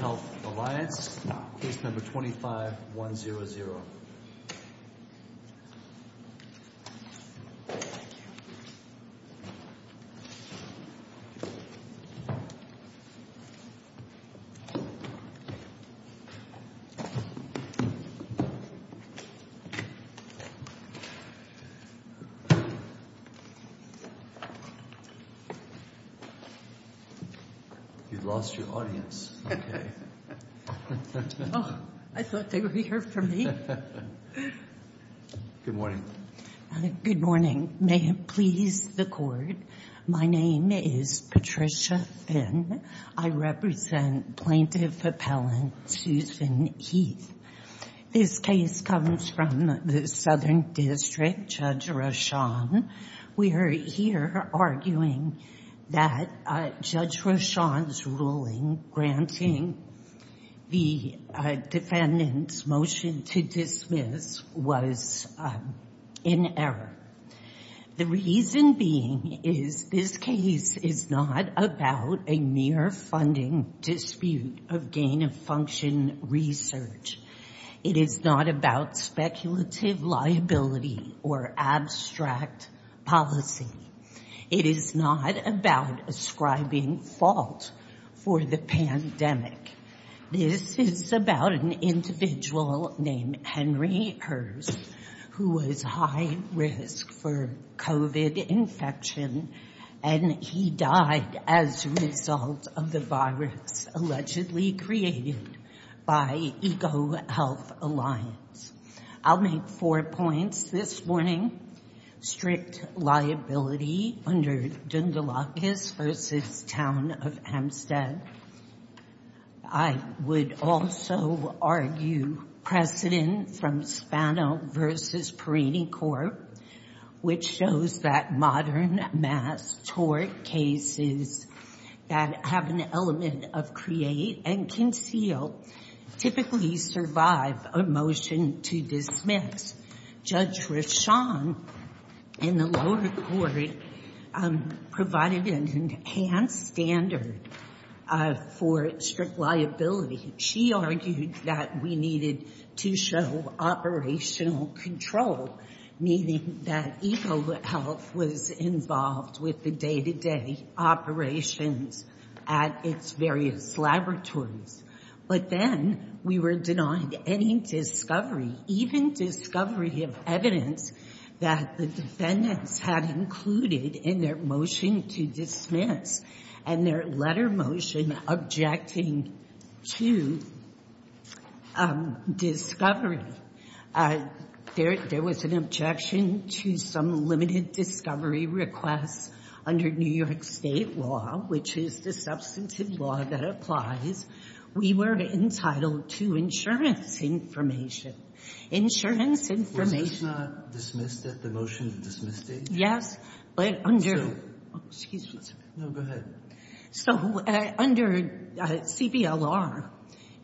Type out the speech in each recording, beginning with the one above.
Health Alliance, case number 25100. You've lost your audience, okay. I thought they were here for me. Good morning. Good morning. May it please the court, my name is Patricia Finn. I represent Plaintiff Appellant Susan Heath. This case comes from the Southern District, Judge Rochon. We are here arguing that Judge Rochon's ruling granting the defendant's motion to dismiss was in error. The reason being is this case is not about a mere funding dispute of gain-of-function research. It is not about speculative liability or abstract policy. It is not about ascribing fault for the pandemic. This is about an individual named Henry Herz who was high risk for COVID infection and he died as a result of the virus allegedly created by Eco Health Alliance. I'll make four points this morning. Strict liability under Dundalakis v. Town of Hempstead. I would also argue precedent from Spano v. Perini Court which shows that modern mass tort cases that have an element of create and conceal typically survive a motion to dismiss. Judge Rochon in the lower court provided an enhanced standard for strict liability. She argued that we needed to show operational control, meaning that Eco Health was involved with the day-to-day operations at its various laboratories. But then we were denied any discovery, even discovery of evidence that the defendants had included in their motion to dismiss and their letter motion objecting to discovery. There was an objection to some limited discovery requests under New York State law, which is the substantive law that applies. We were entitled to insurance information. Insurance information. Was this not dismissed at the motion to dismiss stage? Yes, but under... So... Excuse me. No, go ahead. So under CBLR,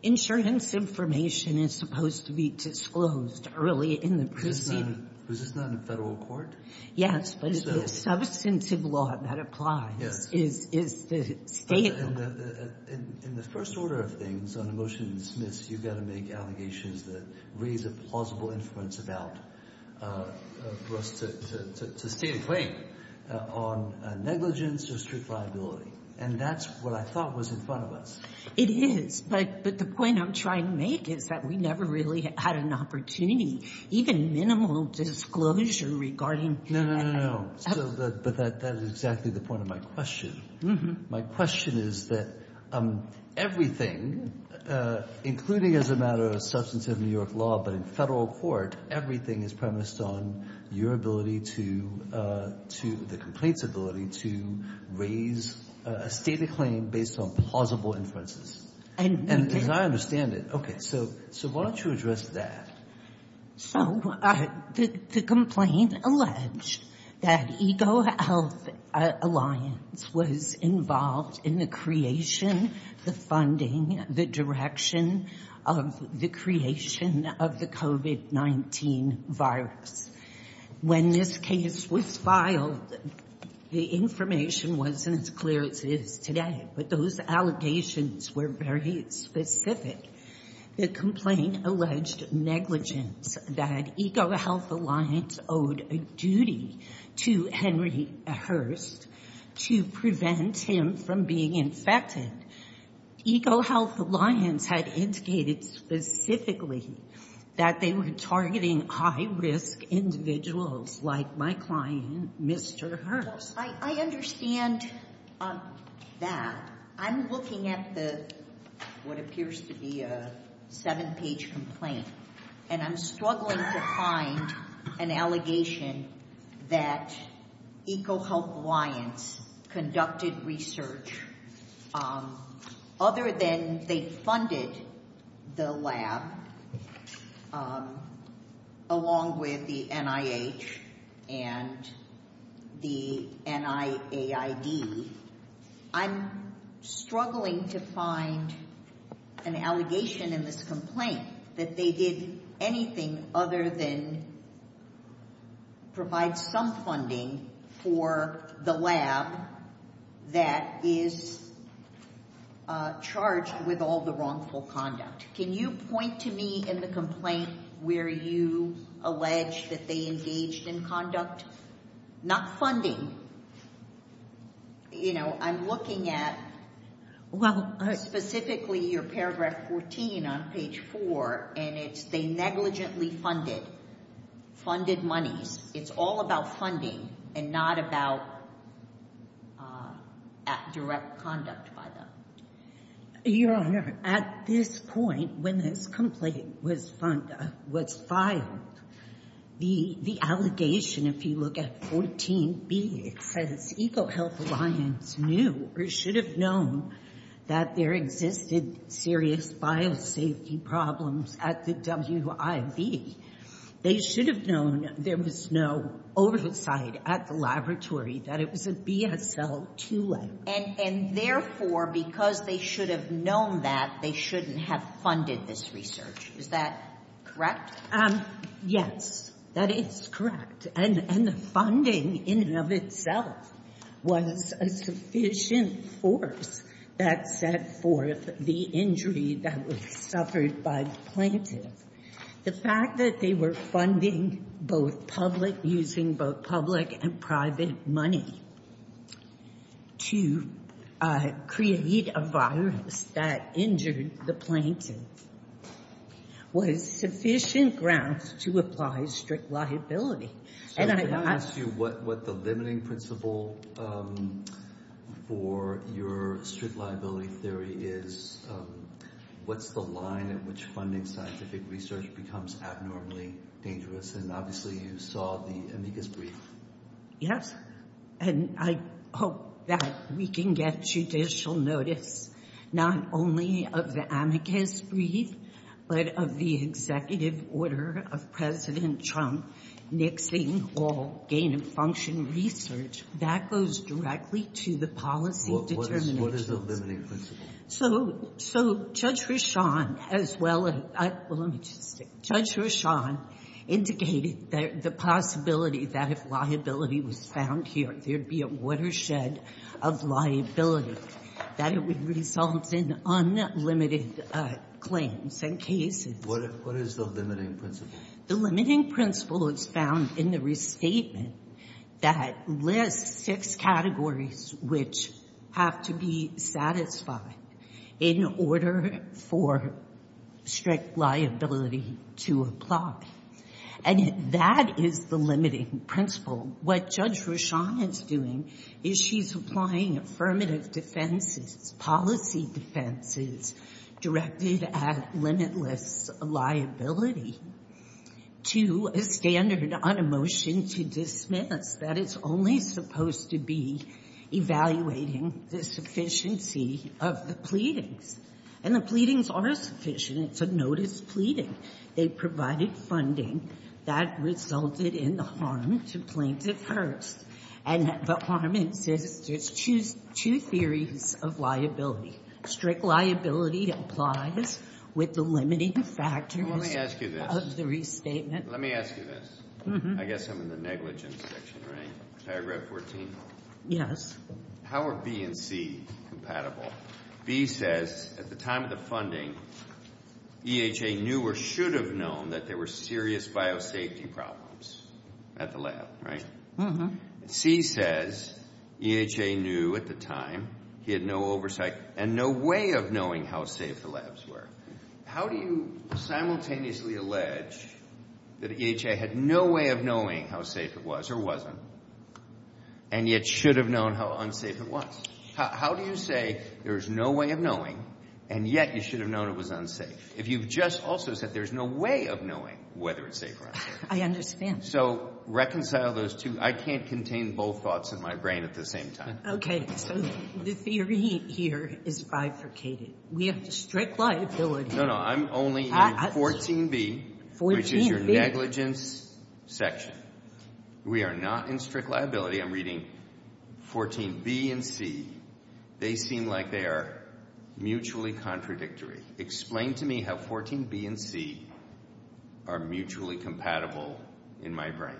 insurance information is supposed to be disclosed early in the proceeding. Was this not in the federal court? Yes, but it's the substantive law that applies. Yes. It's the state law. In the first order of things, on a motion to dismiss, you've got to make allegations that raise a plausible influence for us to stay in play on negligence or strict liability. And that's what I thought was in front of us. It is. But the point I'm trying to make is that we never really had an opportunity, even minimal disclosure, regarding... No, no, no, no. But that is exactly the point of my question. My question is that everything, including as a matter of substantive New York law, but in federal court, everything is premised on your ability to... the complaint's ability to raise a stated claim based on plausible inferences. And we can't... As I understand it. Okay. So why don't you address that? So the complaint alleged that Ego Health Alliance was involved in the creation, the funding, the direction of the creation of the COVID-19 virus. When this case was filed, the information wasn't as clear as it is today, but those allegations were very specific. The complaint alleged negligence, that Ego Health Alliance owed a duty to Henry Hearst to prevent him from being infected. Ego Health Alliance had indicated specifically that they were targeting high-risk individuals like my client, Mr. Hearst. I understand that. I'm looking at what appears to be a seven-page complaint, and I'm struggling to find an allegation that Ego Health Alliance conducted research, other than they funded the lab, along with the NIH and the NIAID. I'm struggling to find an allegation in this complaint that they did anything other than provide some funding for the lab that is charged with all the wrongful conduct. Can you point to me in the complaint where you allege that they engaged in conduct? Not funding. I'm looking at specifically your paragraph 14 on page 4, and it's they negligently funded, funded monies. It's all about funding and not about direct conduct by them. Your Honor, at this point, when this complaint was filed, the allegation, if you look at 14B, it says, Ego Health Alliance knew or should have known that there existed serious biosafety problems at the WIV. They should have known there was no oversight at the laboratory, that it was a BSL-2 letter. And, therefore, because they should have known that, they shouldn't have funded this research. Is that correct? Yes, that is correct. And the funding in and of itself was a sufficient force that set forth the injury that was suffered by the plaintiff. The fact that they were funding both public, using both public and private money to create a virus that injured the plaintiff was sufficient grounds to apply strict liability. Can I ask you what the limiting principle for your strict liability theory is? What's the line at which funding scientific research becomes abnormally dangerous? And, obviously, you saw the amicus brief. Yes, and I hope that we can get judicial notice, not only of the amicus brief, but of the executive order of President Trump nixing all gain-of-function research. That goes directly to the policy determination. Well, what is the limiting principle? So Judge Reshan, as well as — well, let me just say. Judge Reshan indicated the possibility that if liability was found here, there would be a watershed of liability, that it would result in unlimited claims and cases. What is the limiting principle? The limiting principle is found in the restatement that lists six categories which have to be satisfied in order for strict liability to apply. And that is the limiting principle. What Judge Reshan is doing is she's applying affirmative defenses, policy defenses directed at limitless liability to a standard on a motion to dismiss, that it's only supposed to be evaluating the sufficiency of the pleadings. And the pleadings are sufficient. It's a notice pleading. They provided funding that resulted in the harm to plaintiff first. And the harm is there's two theories of liability. Strict liability applies with the limiting factors of the restatement. Let me ask you this. I guess I'm in the negligence section, right? Paragraph 14? Yes. How are B and C compatible? B says, at the time of the funding, EHA knew or should have known that there were serious biosafety problems at the lab. Right? And C says, EHA knew at the time, he had no oversight and no way of knowing how safe the labs were. How do you simultaneously allege that EHA had no way of knowing how safe it was or wasn't, and yet should have known how unsafe it was? How do you say there's no way of knowing, and yet you should have known it was unsafe, if you've just also said there's no way of knowing whether it's safe or unsafe? I understand. So reconcile those two. I can't contain both thoughts in my brain at the same time. Okay. So the theory here is bifurcated. We have strict liability. No, no. I'm only in 14B, which is your negligence section. We are not in strict liability. I'm reading 14B and C. They seem like they are mutually contradictory. Explain to me how 14B and C are mutually compatible in my brain.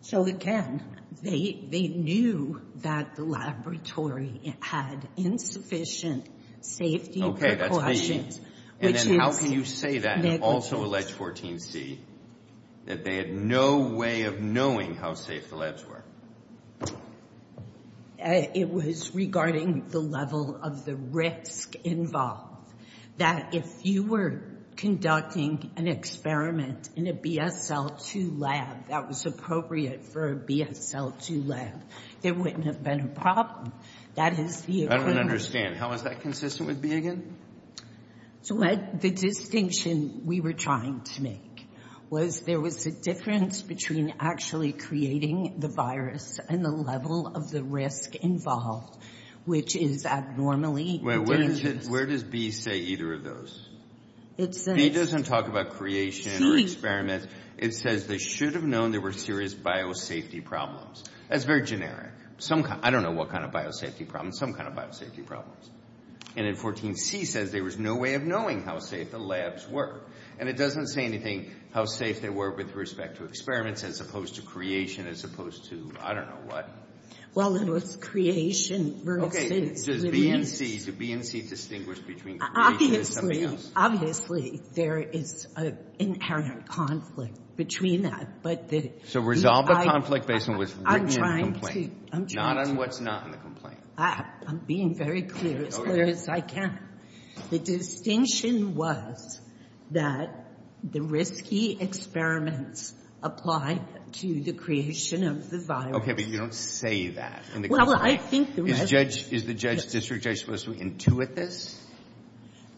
So, again, they knew that the laboratory had insufficient safety precautions, which is negligence. That they had no way of knowing how safe the labs were. It was regarding the level of the risk involved. That if you were conducting an experiment in a BSL-2 lab that was appropriate for a BSL-2 lab, there wouldn't have been a problem. That is the agreement. I don't understand. How is that consistent with B again? The distinction we were trying to make was there was a difference between actually creating the virus and the level of the risk involved, which is abnormally dangerous. Where does B say either of those? B doesn't talk about creation or experiments. It says they should have known there were serious biosafety problems. That's very generic. I don't know what kind of biosafety problems. Some kind of biosafety problems. And then 14C says there was no way of knowing how safe the labs were. And it doesn't say anything how safe they were with respect to experiments as opposed to creation as opposed to I don't know what. Well, it was creation versus the risks. Does B and C distinguish between creation and something else? Obviously, there is an inherent conflict between that. So resolve the conflict based on what's written in the complaint. I'm trying to. Not on what's not in the complaint. I'm being very clear, as clear as I can. The distinction was that the risky experiments applied to the creation of the virus. Okay. But you don't say that in the case. Well, I think the results. Is the judge's district judge supposed to intuit this?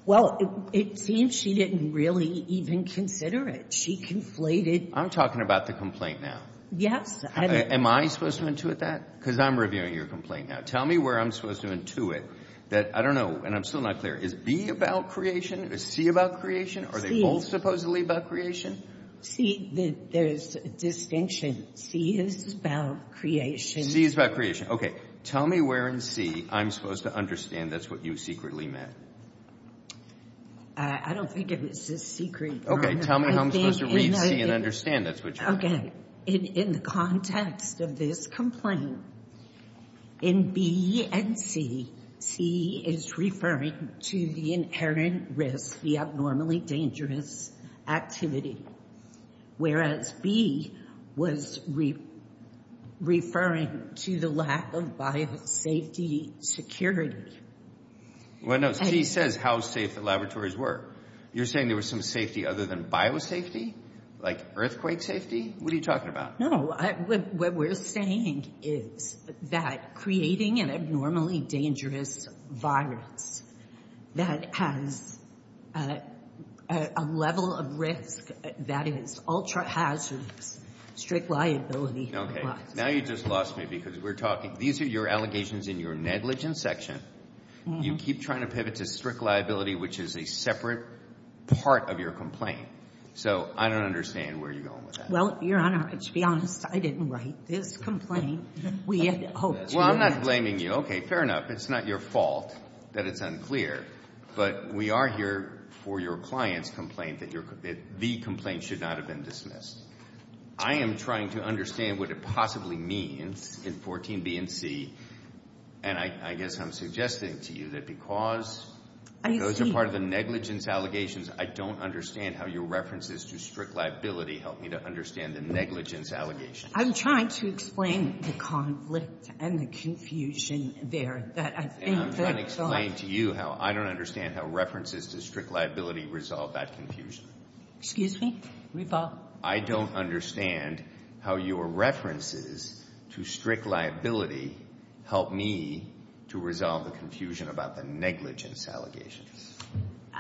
Well, it seems she didn't really even consider it. She conflated. I'm talking about the complaint now. Yes. Am I supposed to intuit that? Because I'm reviewing your complaint now. Tell me where I'm supposed to intuit that. I don't know. And I'm still not clear. Is B about creation? Is C about creation? Are they both supposedly about creation? C, there is a distinction. C is about creation. C is about creation. Okay. Tell me where in C I'm supposed to understand that's what you secretly meant. I don't think it was a secret. Okay. Tell me how I'm supposed to read C and understand that's what you meant. Okay. In the context of this complaint, in B and C, C is referring to the inherent risk, the abnormally dangerous activity, whereas B was referring to the lack of biosafety security. Well, no. C says how safe the laboratories were. You're saying there was some safety other than biosafety? Like earthquake safety? What are you talking about? What we're saying is that creating an abnormally dangerous virus that has a level of risk that is ultra-hazardous, strict liability. Okay. Now you just lost me because we're talking. These are your allegations in your negligence section. You keep trying to pivot to strict liability, which is a separate part of your complaint. So I don't understand where you're going with that. Well, Your Honor, to be honest, I didn't write this complaint. We had hoped you would. Well, I'm not blaming you. Okay, fair enough. It's not your fault that it's unclear, but we are here for your client's complaint that the complaint should not have been dismissed. I am trying to understand what it possibly means in 14B and C, and I guess I'm suggesting to you that because those are part of the negligence allegations, I don't understand how your references to strict liability help me to understand the negligence allegations. I'm trying to explain the conflict and the confusion there. And I'm trying to explain to you how I don't understand how references to strict liability resolve that confusion. Excuse me? I don't understand how your references to strict liability help me to resolve the confusion about the negligence allegations.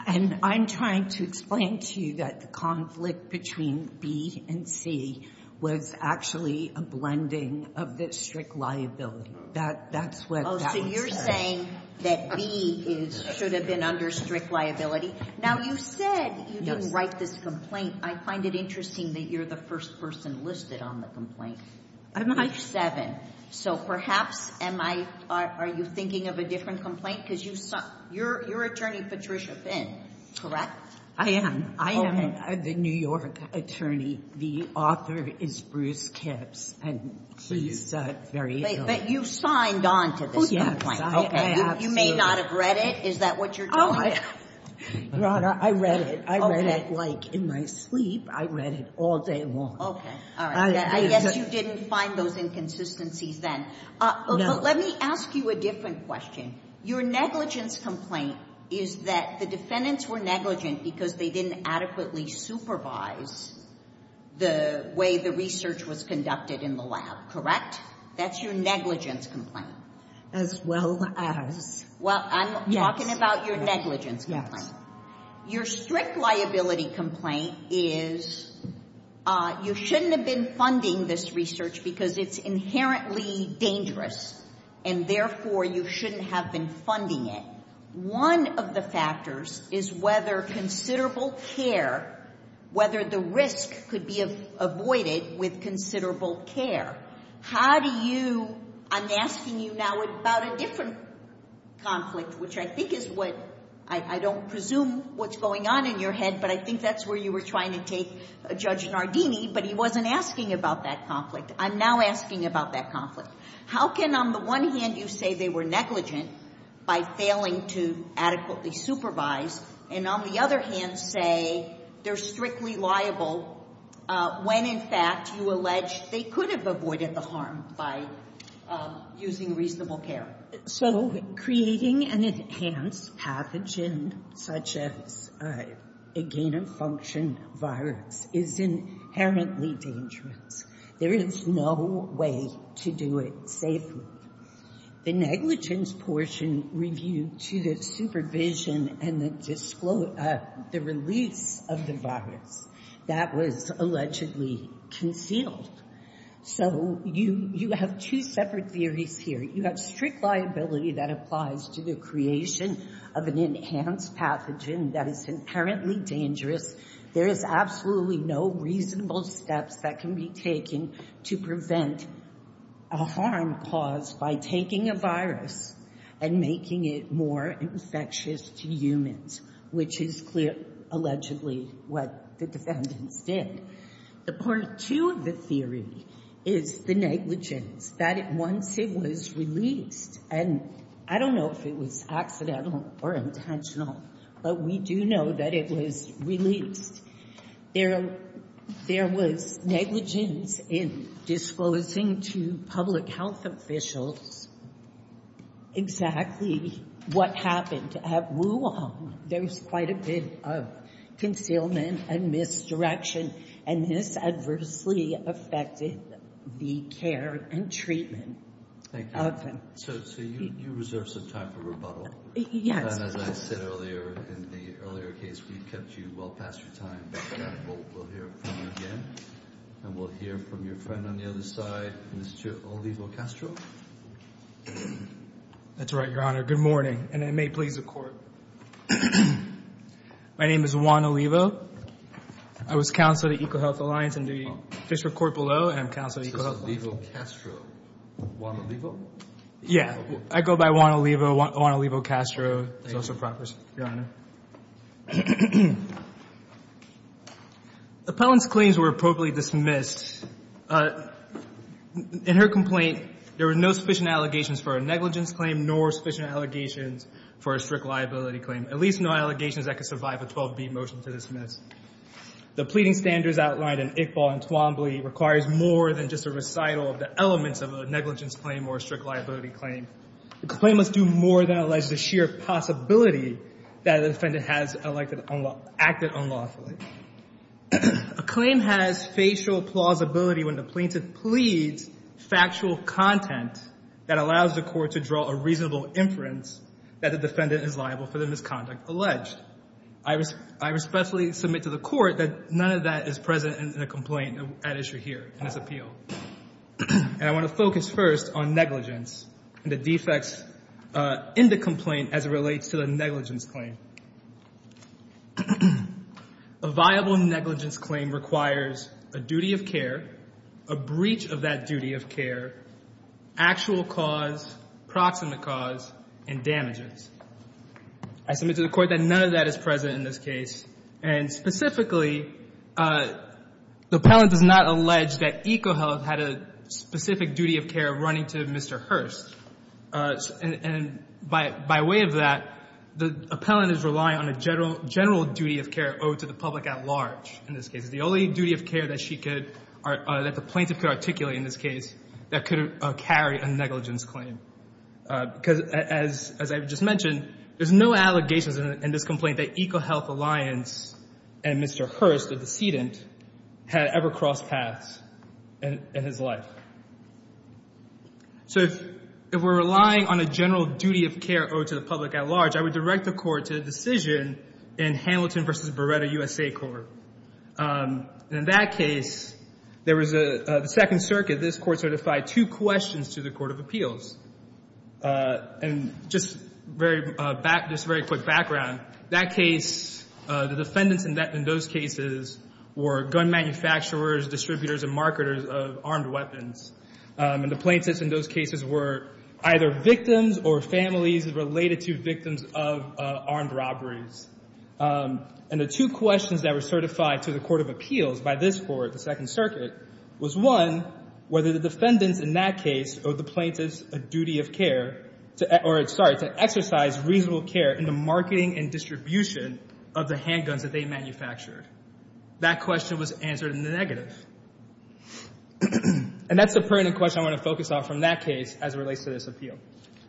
And I'm trying to explain to you that the conflict between B and C was actually a blending of the strict liability. That's what that was. Oh, so you're saying that B should have been under strict liability. Now, you said you didn't write this complaint. I find it interesting that you're the first person listed on the complaint. I'm not. You're seven. So perhaps are you thinking of a different complaint? You're Attorney Patricia Finn, correct? I am. I am the New York attorney. The author is Bruce Kipps, and he's very ill. But you signed on to this complaint. You may not have read it. Is that what you're doing? Your Honor, I read it. I read it like in my sleep. I read it all day long. I guess you didn't find those inconsistencies then. Let me ask you a different question. Your negligence complaint is that the defendants were negligent because they didn't adequately supervise the way the research was conducted in the lab, correct? That's your negligence complaint. As well as. Well, I'm talking about your negligence complaint. Your strict liability complaint is you shouldn't have been funding this research because it's inherently dangerous, and therefore you shouldn't have been funding it. One of the factors is whether considerable care, whether the risk could be avoided with considerable care. How do you, I'm asking you now about a different conflict, which I think is what, I don't presume what's going on in your head, but I think that's where you were trying to take Judge Nardini, but he wasn't asking about that conflict. I'm now asking about that conflict. How can on the one hand you say they were negligent by failing to adequately supervise, and on the other hand say they're strictly liable when in fact you allege they could have avoided the harm by using reasonable care? So creating an enhanced pathogen such as a gain-of-function virus is inherently dangerous. There is no way to do it safely. The negligence portion reviewed to the supervision and the release of the virus, that was allegedly concealed. So you have two separate theories here. You have strict liability that applies to the creation of an enhanced pathogen that is inherently dangerous. There is absolutely no reasonable steps that can be taken to prevent a harm caused by taking a virus and making it more infectious to humans, which is allegedly what the defendants did. The part two of the theory is the negligence, that once it was released, and I don't know if it was accidental or intentional, but we do know that it was released. There was negligence in disclosing to public health officials exactly what happened at Wuhan. There was quite a bit of concealment and misdirection, and this adversely affected the care and treatment of them. So you reserve some time for rebuttal. Yes. As I said earlier in the earlier case, we kept you well past your time. We'll hear from you again, and we'll hear from your friend on the other side, Mr. Olivo Castro. That's right, Your Honor. Good morning, and I may please the Court. My name is Juan Olivo. I was counsel to EcoHealth Alliance in the Fisher Court below, and I'm counsel to EcoHealth Alliance. Juan Olivo Castro. Juan Olivo? Yeah. I go by Juan Olivo. Juan Olivo Castro is also proper, Your Honor. Appellant's claims were appropriately dismissed. In her complaint, there were no sufficient allegations for a negligence claim nor sufficient allegations for a strict liability claim, at least no allegations that could survive a 12-B motion to dismiss. The pleading standards outlined in Iqbal and Twombly requires more than just a recital of the elements of a negligence claim or a strict liability claim. The claim must do more than allege the sheer possibility that the defendant has acted unlawfully. A claim has facial plausibility when the plaintiff pleads factual content that allows the Court to draw a reasonable inference that the defendant is liable for the misconduct alleged. I respectfully submit to the Court that none of that is present in the complaint at issue here in this appeal. And I want to focus first on negligence and the defects in the complaint as it relates to the negligence claim. A viable negligence claim requires a duty of care, a breach of that duty of care, actual cause, proximate cause, and damages. I submit to the Court that none of that is present in this case. And specifically, the appellant does not allege that EcoHealth had a specific duty of care running to Mr. Hurst. And by way of that, the appellant is relying on a general duty of care owed to the public at large in this case. It's the only duty of care that she could or that the plaintiff could articulate in this case that could carry a negligence claim. Because as I just mentioned, there's no allegations in this complaint that EcoHealth Alliance and Mr. Hurst, the decedent, had ever crossed paths in his life. So if we're relying on a general duty of care owed to the public at large, I would direct the Court to the decision in Hamilton v. Beretta, USA, Court. In that case, there was a second circuit. This Court certified two questions to the Court of Appeals. And just very quick background, that case, the defendants in those cases were gun manufacturers, distributors, and marketers of armed weapons. And the plaintiffs in those cases were either victims or families related to victims of armed robberies. And the two questions that were certified to the Court of Appeals by this Court, the second circuit, was, one, whether the defendants in that case owed the plaintiffs a duty of care, or, sorry, to exercise reasonable care in the marketing and distribution of the handguns that they manufactured. That question was answered in the negative. And that's the pertinent question I want to focus on from that case as it relates to this appeal.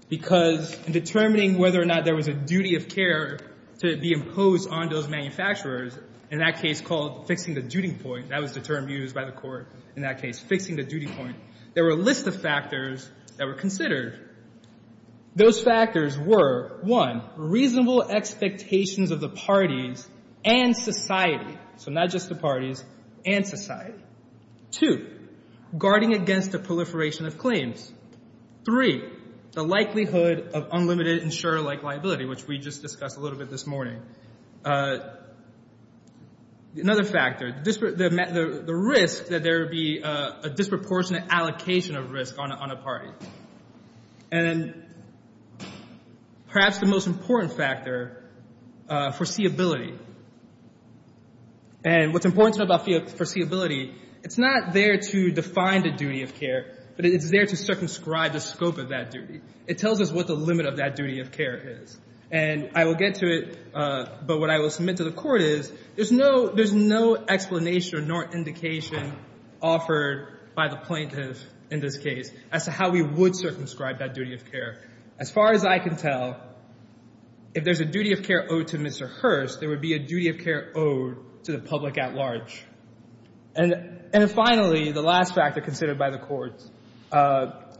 Because in determining whether or not there was a duty of care to be imposed on those manufacturers, in that case called fixing the duty point, that was the term used by the Court in that case, fixing the duty point, there were a list of factors that were considered. Those factors were, one, reasonable expectations of the parties and society, so not just the parties and society. Two, guarding against the proliferation of claims. Three, the likelihood of unlimited insurer-like liability, which we just discussed a little bit this morning. Another factor, the risk that there would be a disproportionate allocation of risk on a party. And perhaps the most important factor, foreseeability. And what's important to know about foreseeability, it's not there to define the duty of care, but it's there to circumscribe the scope of that duty. It tells us what the limit of that duty of care is. And I will get to it, but what I will submit to the Court is there's no explanation nor indication offered by the plaintiff in this case as to how we would circumscribe that duty of care. As far as I can tell, if there's a duty of care owed to Mr. Hurst, there would be a duty of care owed to the public at large. And finally, the last factor considered by the Court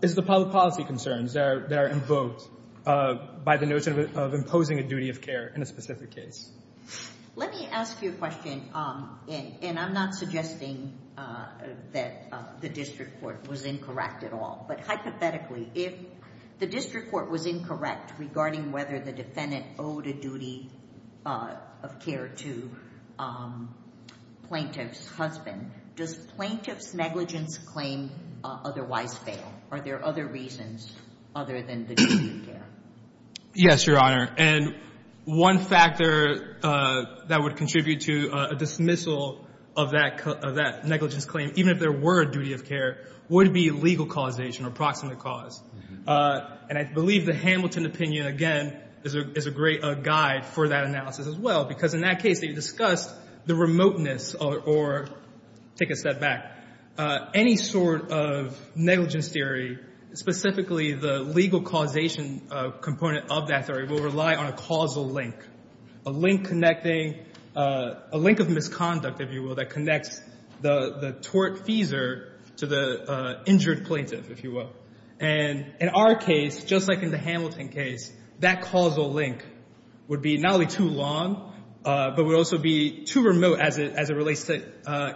is the public policy concerns that are invoked by the notion of imposing a duty of care in a specific case. Let me ask you a question, and I'm not suggesting that the district court was incorrect at all. But hypothetically, if the district court was incorrect regarding whether the defendant owed a duty of care to plaintiff's husband, does plaintiff's negligence claim otherwise fail? Are there other reasons other than the duty of care? Yes, Your Honor. And one factor that would contribute to a dismissal of that negligence claim, even if there were a duty of care, would be legal causation or proximate cause. And I believe the Hamilton opinion, again, is a great guide for that analysis as well, because in that case they discussed the remoteness or take a step back. Any sort of negligence theory, specifically the legal causation component of that theory, will rely on a causal link, a link connecting, a link of misconduct, if you will, that connects the tortfeasor to the injured plaintiff, if you will. And in our case, just like in the Hamilton case, that causal link would be not only too long, but would also be too remote as it relates to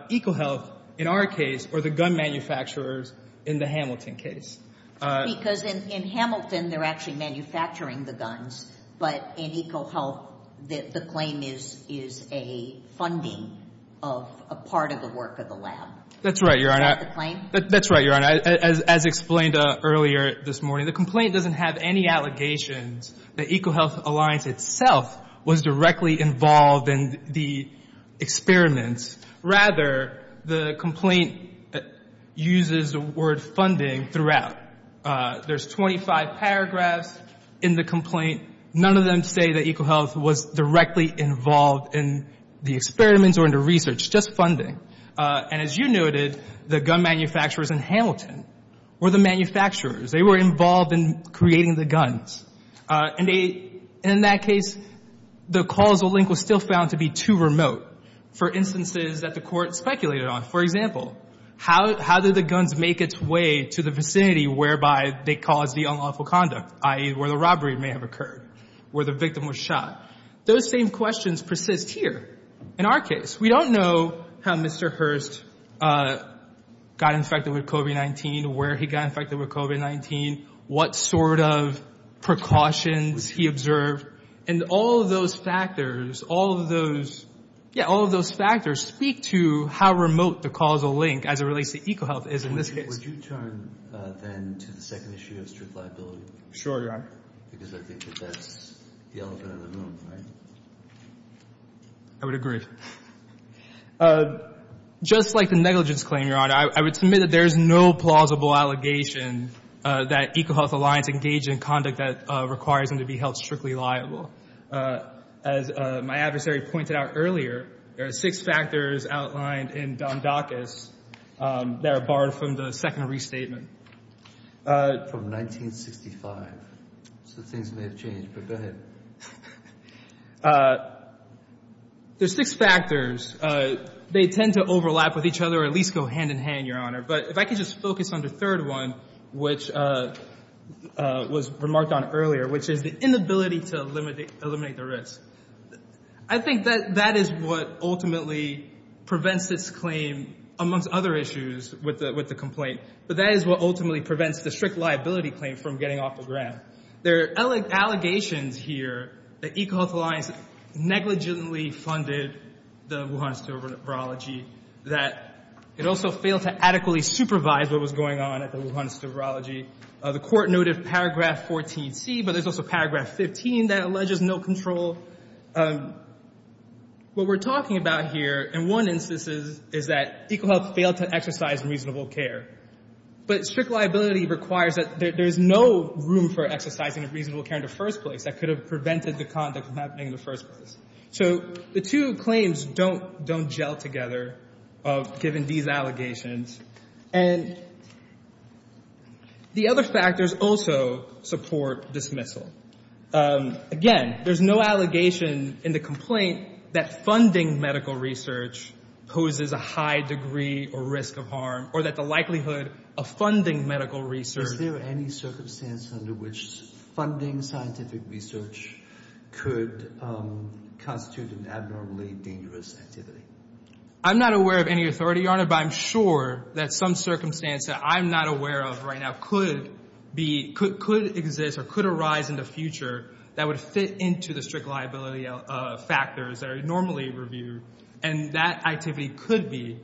EcoHealth, in our case, or the gun manufacturers in the Hamilton case. Because in Hamilton they're actually manufacturing the guns, but in EcoHealth the claim is a funding of a part of the work of the lab. That's right, Your Honor. Is that the claim? That's right, Your Honor. As explained earlier this morning, the complaint doesn't have any allegations that EcoHealth Alliance itself was directly involved in the experiments. Rather, the complaint uses the word funding throughout. There's 25 paragraphs in the complaint. None of them say that EcoHealth was directly involved in the experiments or in the research, just funding. And as you noted, the gun manufacturers in Hamilton were the manufacturers. They were involved in creating the guns. And in that case, the causal link was still found to be too remote. For instances that the court speculated on, for example, how did the guns make its way to the vicinity whereby they caused the unlawful conduct, i.e., where the robbery may have occurred, where the victim was shot? Those same questions persist here in our case. We don't know how Mr. Hurst got infected with COVID-19, where he got infected with COVID-19, what sort of precautions he observed. And all of those factors, all of those, yeah, all of those factors speak to how remote the causal link as it relates to EcoHealth is in this case. Would you turn then to the second issue of strict liability? Sure, Your Honor. Because I think that that's the elephant in the room, right? I would agree. Just like the negligence claim, Your Honor, I would submit that there is no plausible allegation that EcoHealth Alliance engaged in conduct that requires them to be held strictly liable. As my adversary pointed out earlier, there are six factors outlined in Dondakis that are borrowed from the second restatement. From 1965. So things may have changed, but go ahead. There's six factors. They tend to overlap with each other or at least go hand in hand, Your Honor. But if I could just focus on the third one, which was remarked on earlier, which is the inability to eliminate the risk. I think that that is what ultimately prevents this claim, amongst other issues with the complaint. But that is what ultimately prevents the strict liability claim from getting off the ground. There are allegations here that EcoHealth Alliance negligently funded the Wuhan sterile virology. That it also failed to adequately supervise what was going on at the Wuhan sterile virology. The court noted paragraph 14C, but there's also paragraph 15 that alleges no control. What we're talking about here in one instance is that EcoHealth failed to exercise reasonable care. But strict liability requires that there's no room for exercising reasonable care in the first place. That could have prevented the conduct from happening in the first place. So the two claims don't gel together given these allegations. And the other factors also support dismissal. Again, there's no allegation in the complaint that funding medical research poses a high degree or risk of harm. Or that the likelihood of funding medical research. Is there any circumstance under which funding scientific research could constitute an abnormally dangerous activity? I'm not aware of any authority, Your Honor. But I'm sure that some circumstance that I'm not aware of right now could exist or could arise in the future. That would fit into the strict liability factors that are normally reviewed. And that activity could be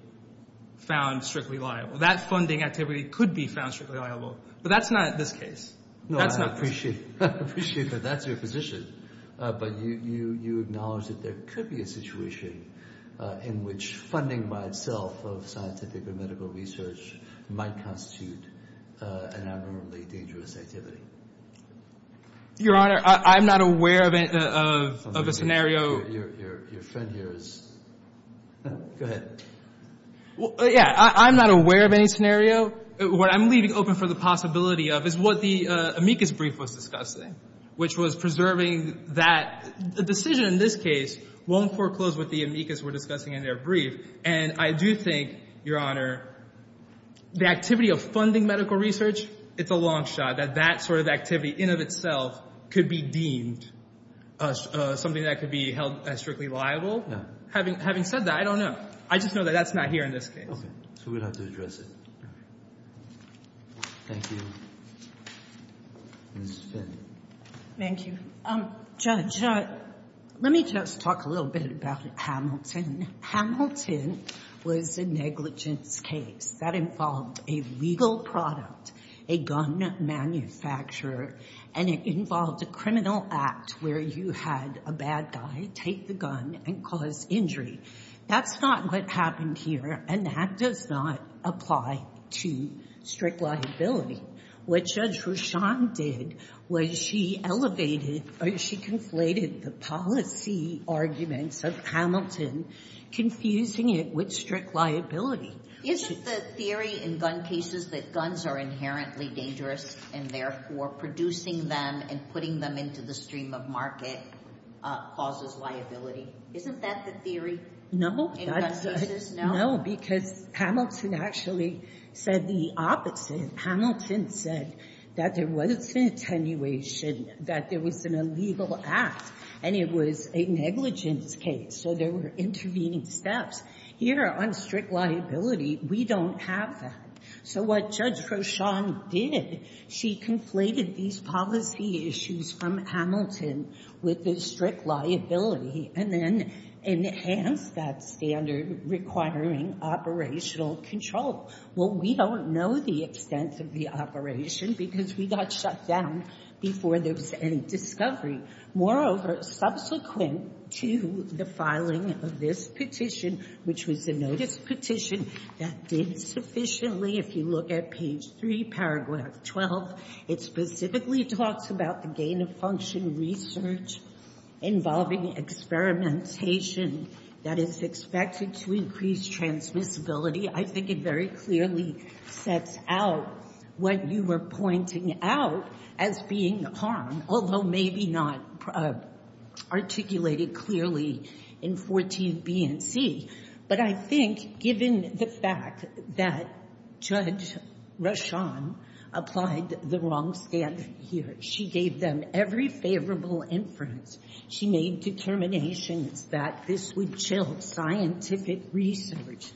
found strictly liable. That funding activity could be found strictly liable. But that's not this case. No, I appreciate that. That's your position. But you acknowledge that there could be a situation in which funding by itself of scientific or medical research might constitute an abnormally dangerous activity. Your Honor, I'm not aware of a scenario. Your friend here is. Go ahead. Yeah, I'm not aware of any scenario. What I'm leaving open for the possibility of is what the amicus brief was discussing. Which was preserving that the decision in this case won't foreclose what the amicus were discussing in their brief. And I do think, Your Honor, the activity of funding medical research, it's a long shot. That that sort of activity in of itself could be deemed something that could be held as strictly liable. Having said that, I don't know. I just know that that's not here in this case. Okay. So we'll have to address it. Thank you. Ms. Finn. Thank you. Judge, let me just talk a little bit about Hamilton. Hamilton was a negligence case. That involved a legal product, a gun manufacturer. And it involved a criminal act where you had a bad guy take the gun and cause injury. That's not what happened here. And that does not apply to strict liability. What Judge Roushon did was she elevated or she conflated the policy arguments of Hamilton, confusing it with strict liability. Isn't the theory in gun cases that guns are inherently dangerous and, therefore, producing them and putting them into the stream of market causes liability? Isn't that the theory? No. In gun cases? No. No, because Hamilton actually said the opposite. Hamilton said that there was an attenuation, that there was an illegal act, and it was a negligence case. So there were intervening steps. Here on strict liability, we don't have that. So what Judge Roushon did, she conflated these policy issues from Hamilton with the strict liability and then enhanced that standard requiring operational control. Well, we don't know the extent of the operation because we got shut down before there was any discovery. Moreover, subsequent to the filing of this petition, which was a notice petition that did sufficiently, if you look at page 3, paragraph 12, it specifically talks about the gain-of-function research involving experimentation that is expected to increase transmissibility. I think it very clearly sets out what you were pointing out as being harm, although maybe not articulated clearly in 14 B and C. But I think, given the fact that Judge Roushon applied the wrong standard here, she gave them every favorable inference. She made determinations that this would chill scientific research,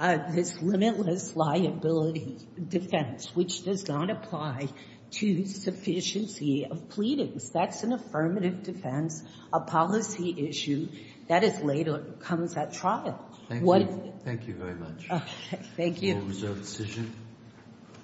this limitless liability defense, which does not apply to sufficiency of pleadings. That's an affirmative defense, a policy issue that later comes at trial. Thank you. Thank you very much. Thank you. That was our decision.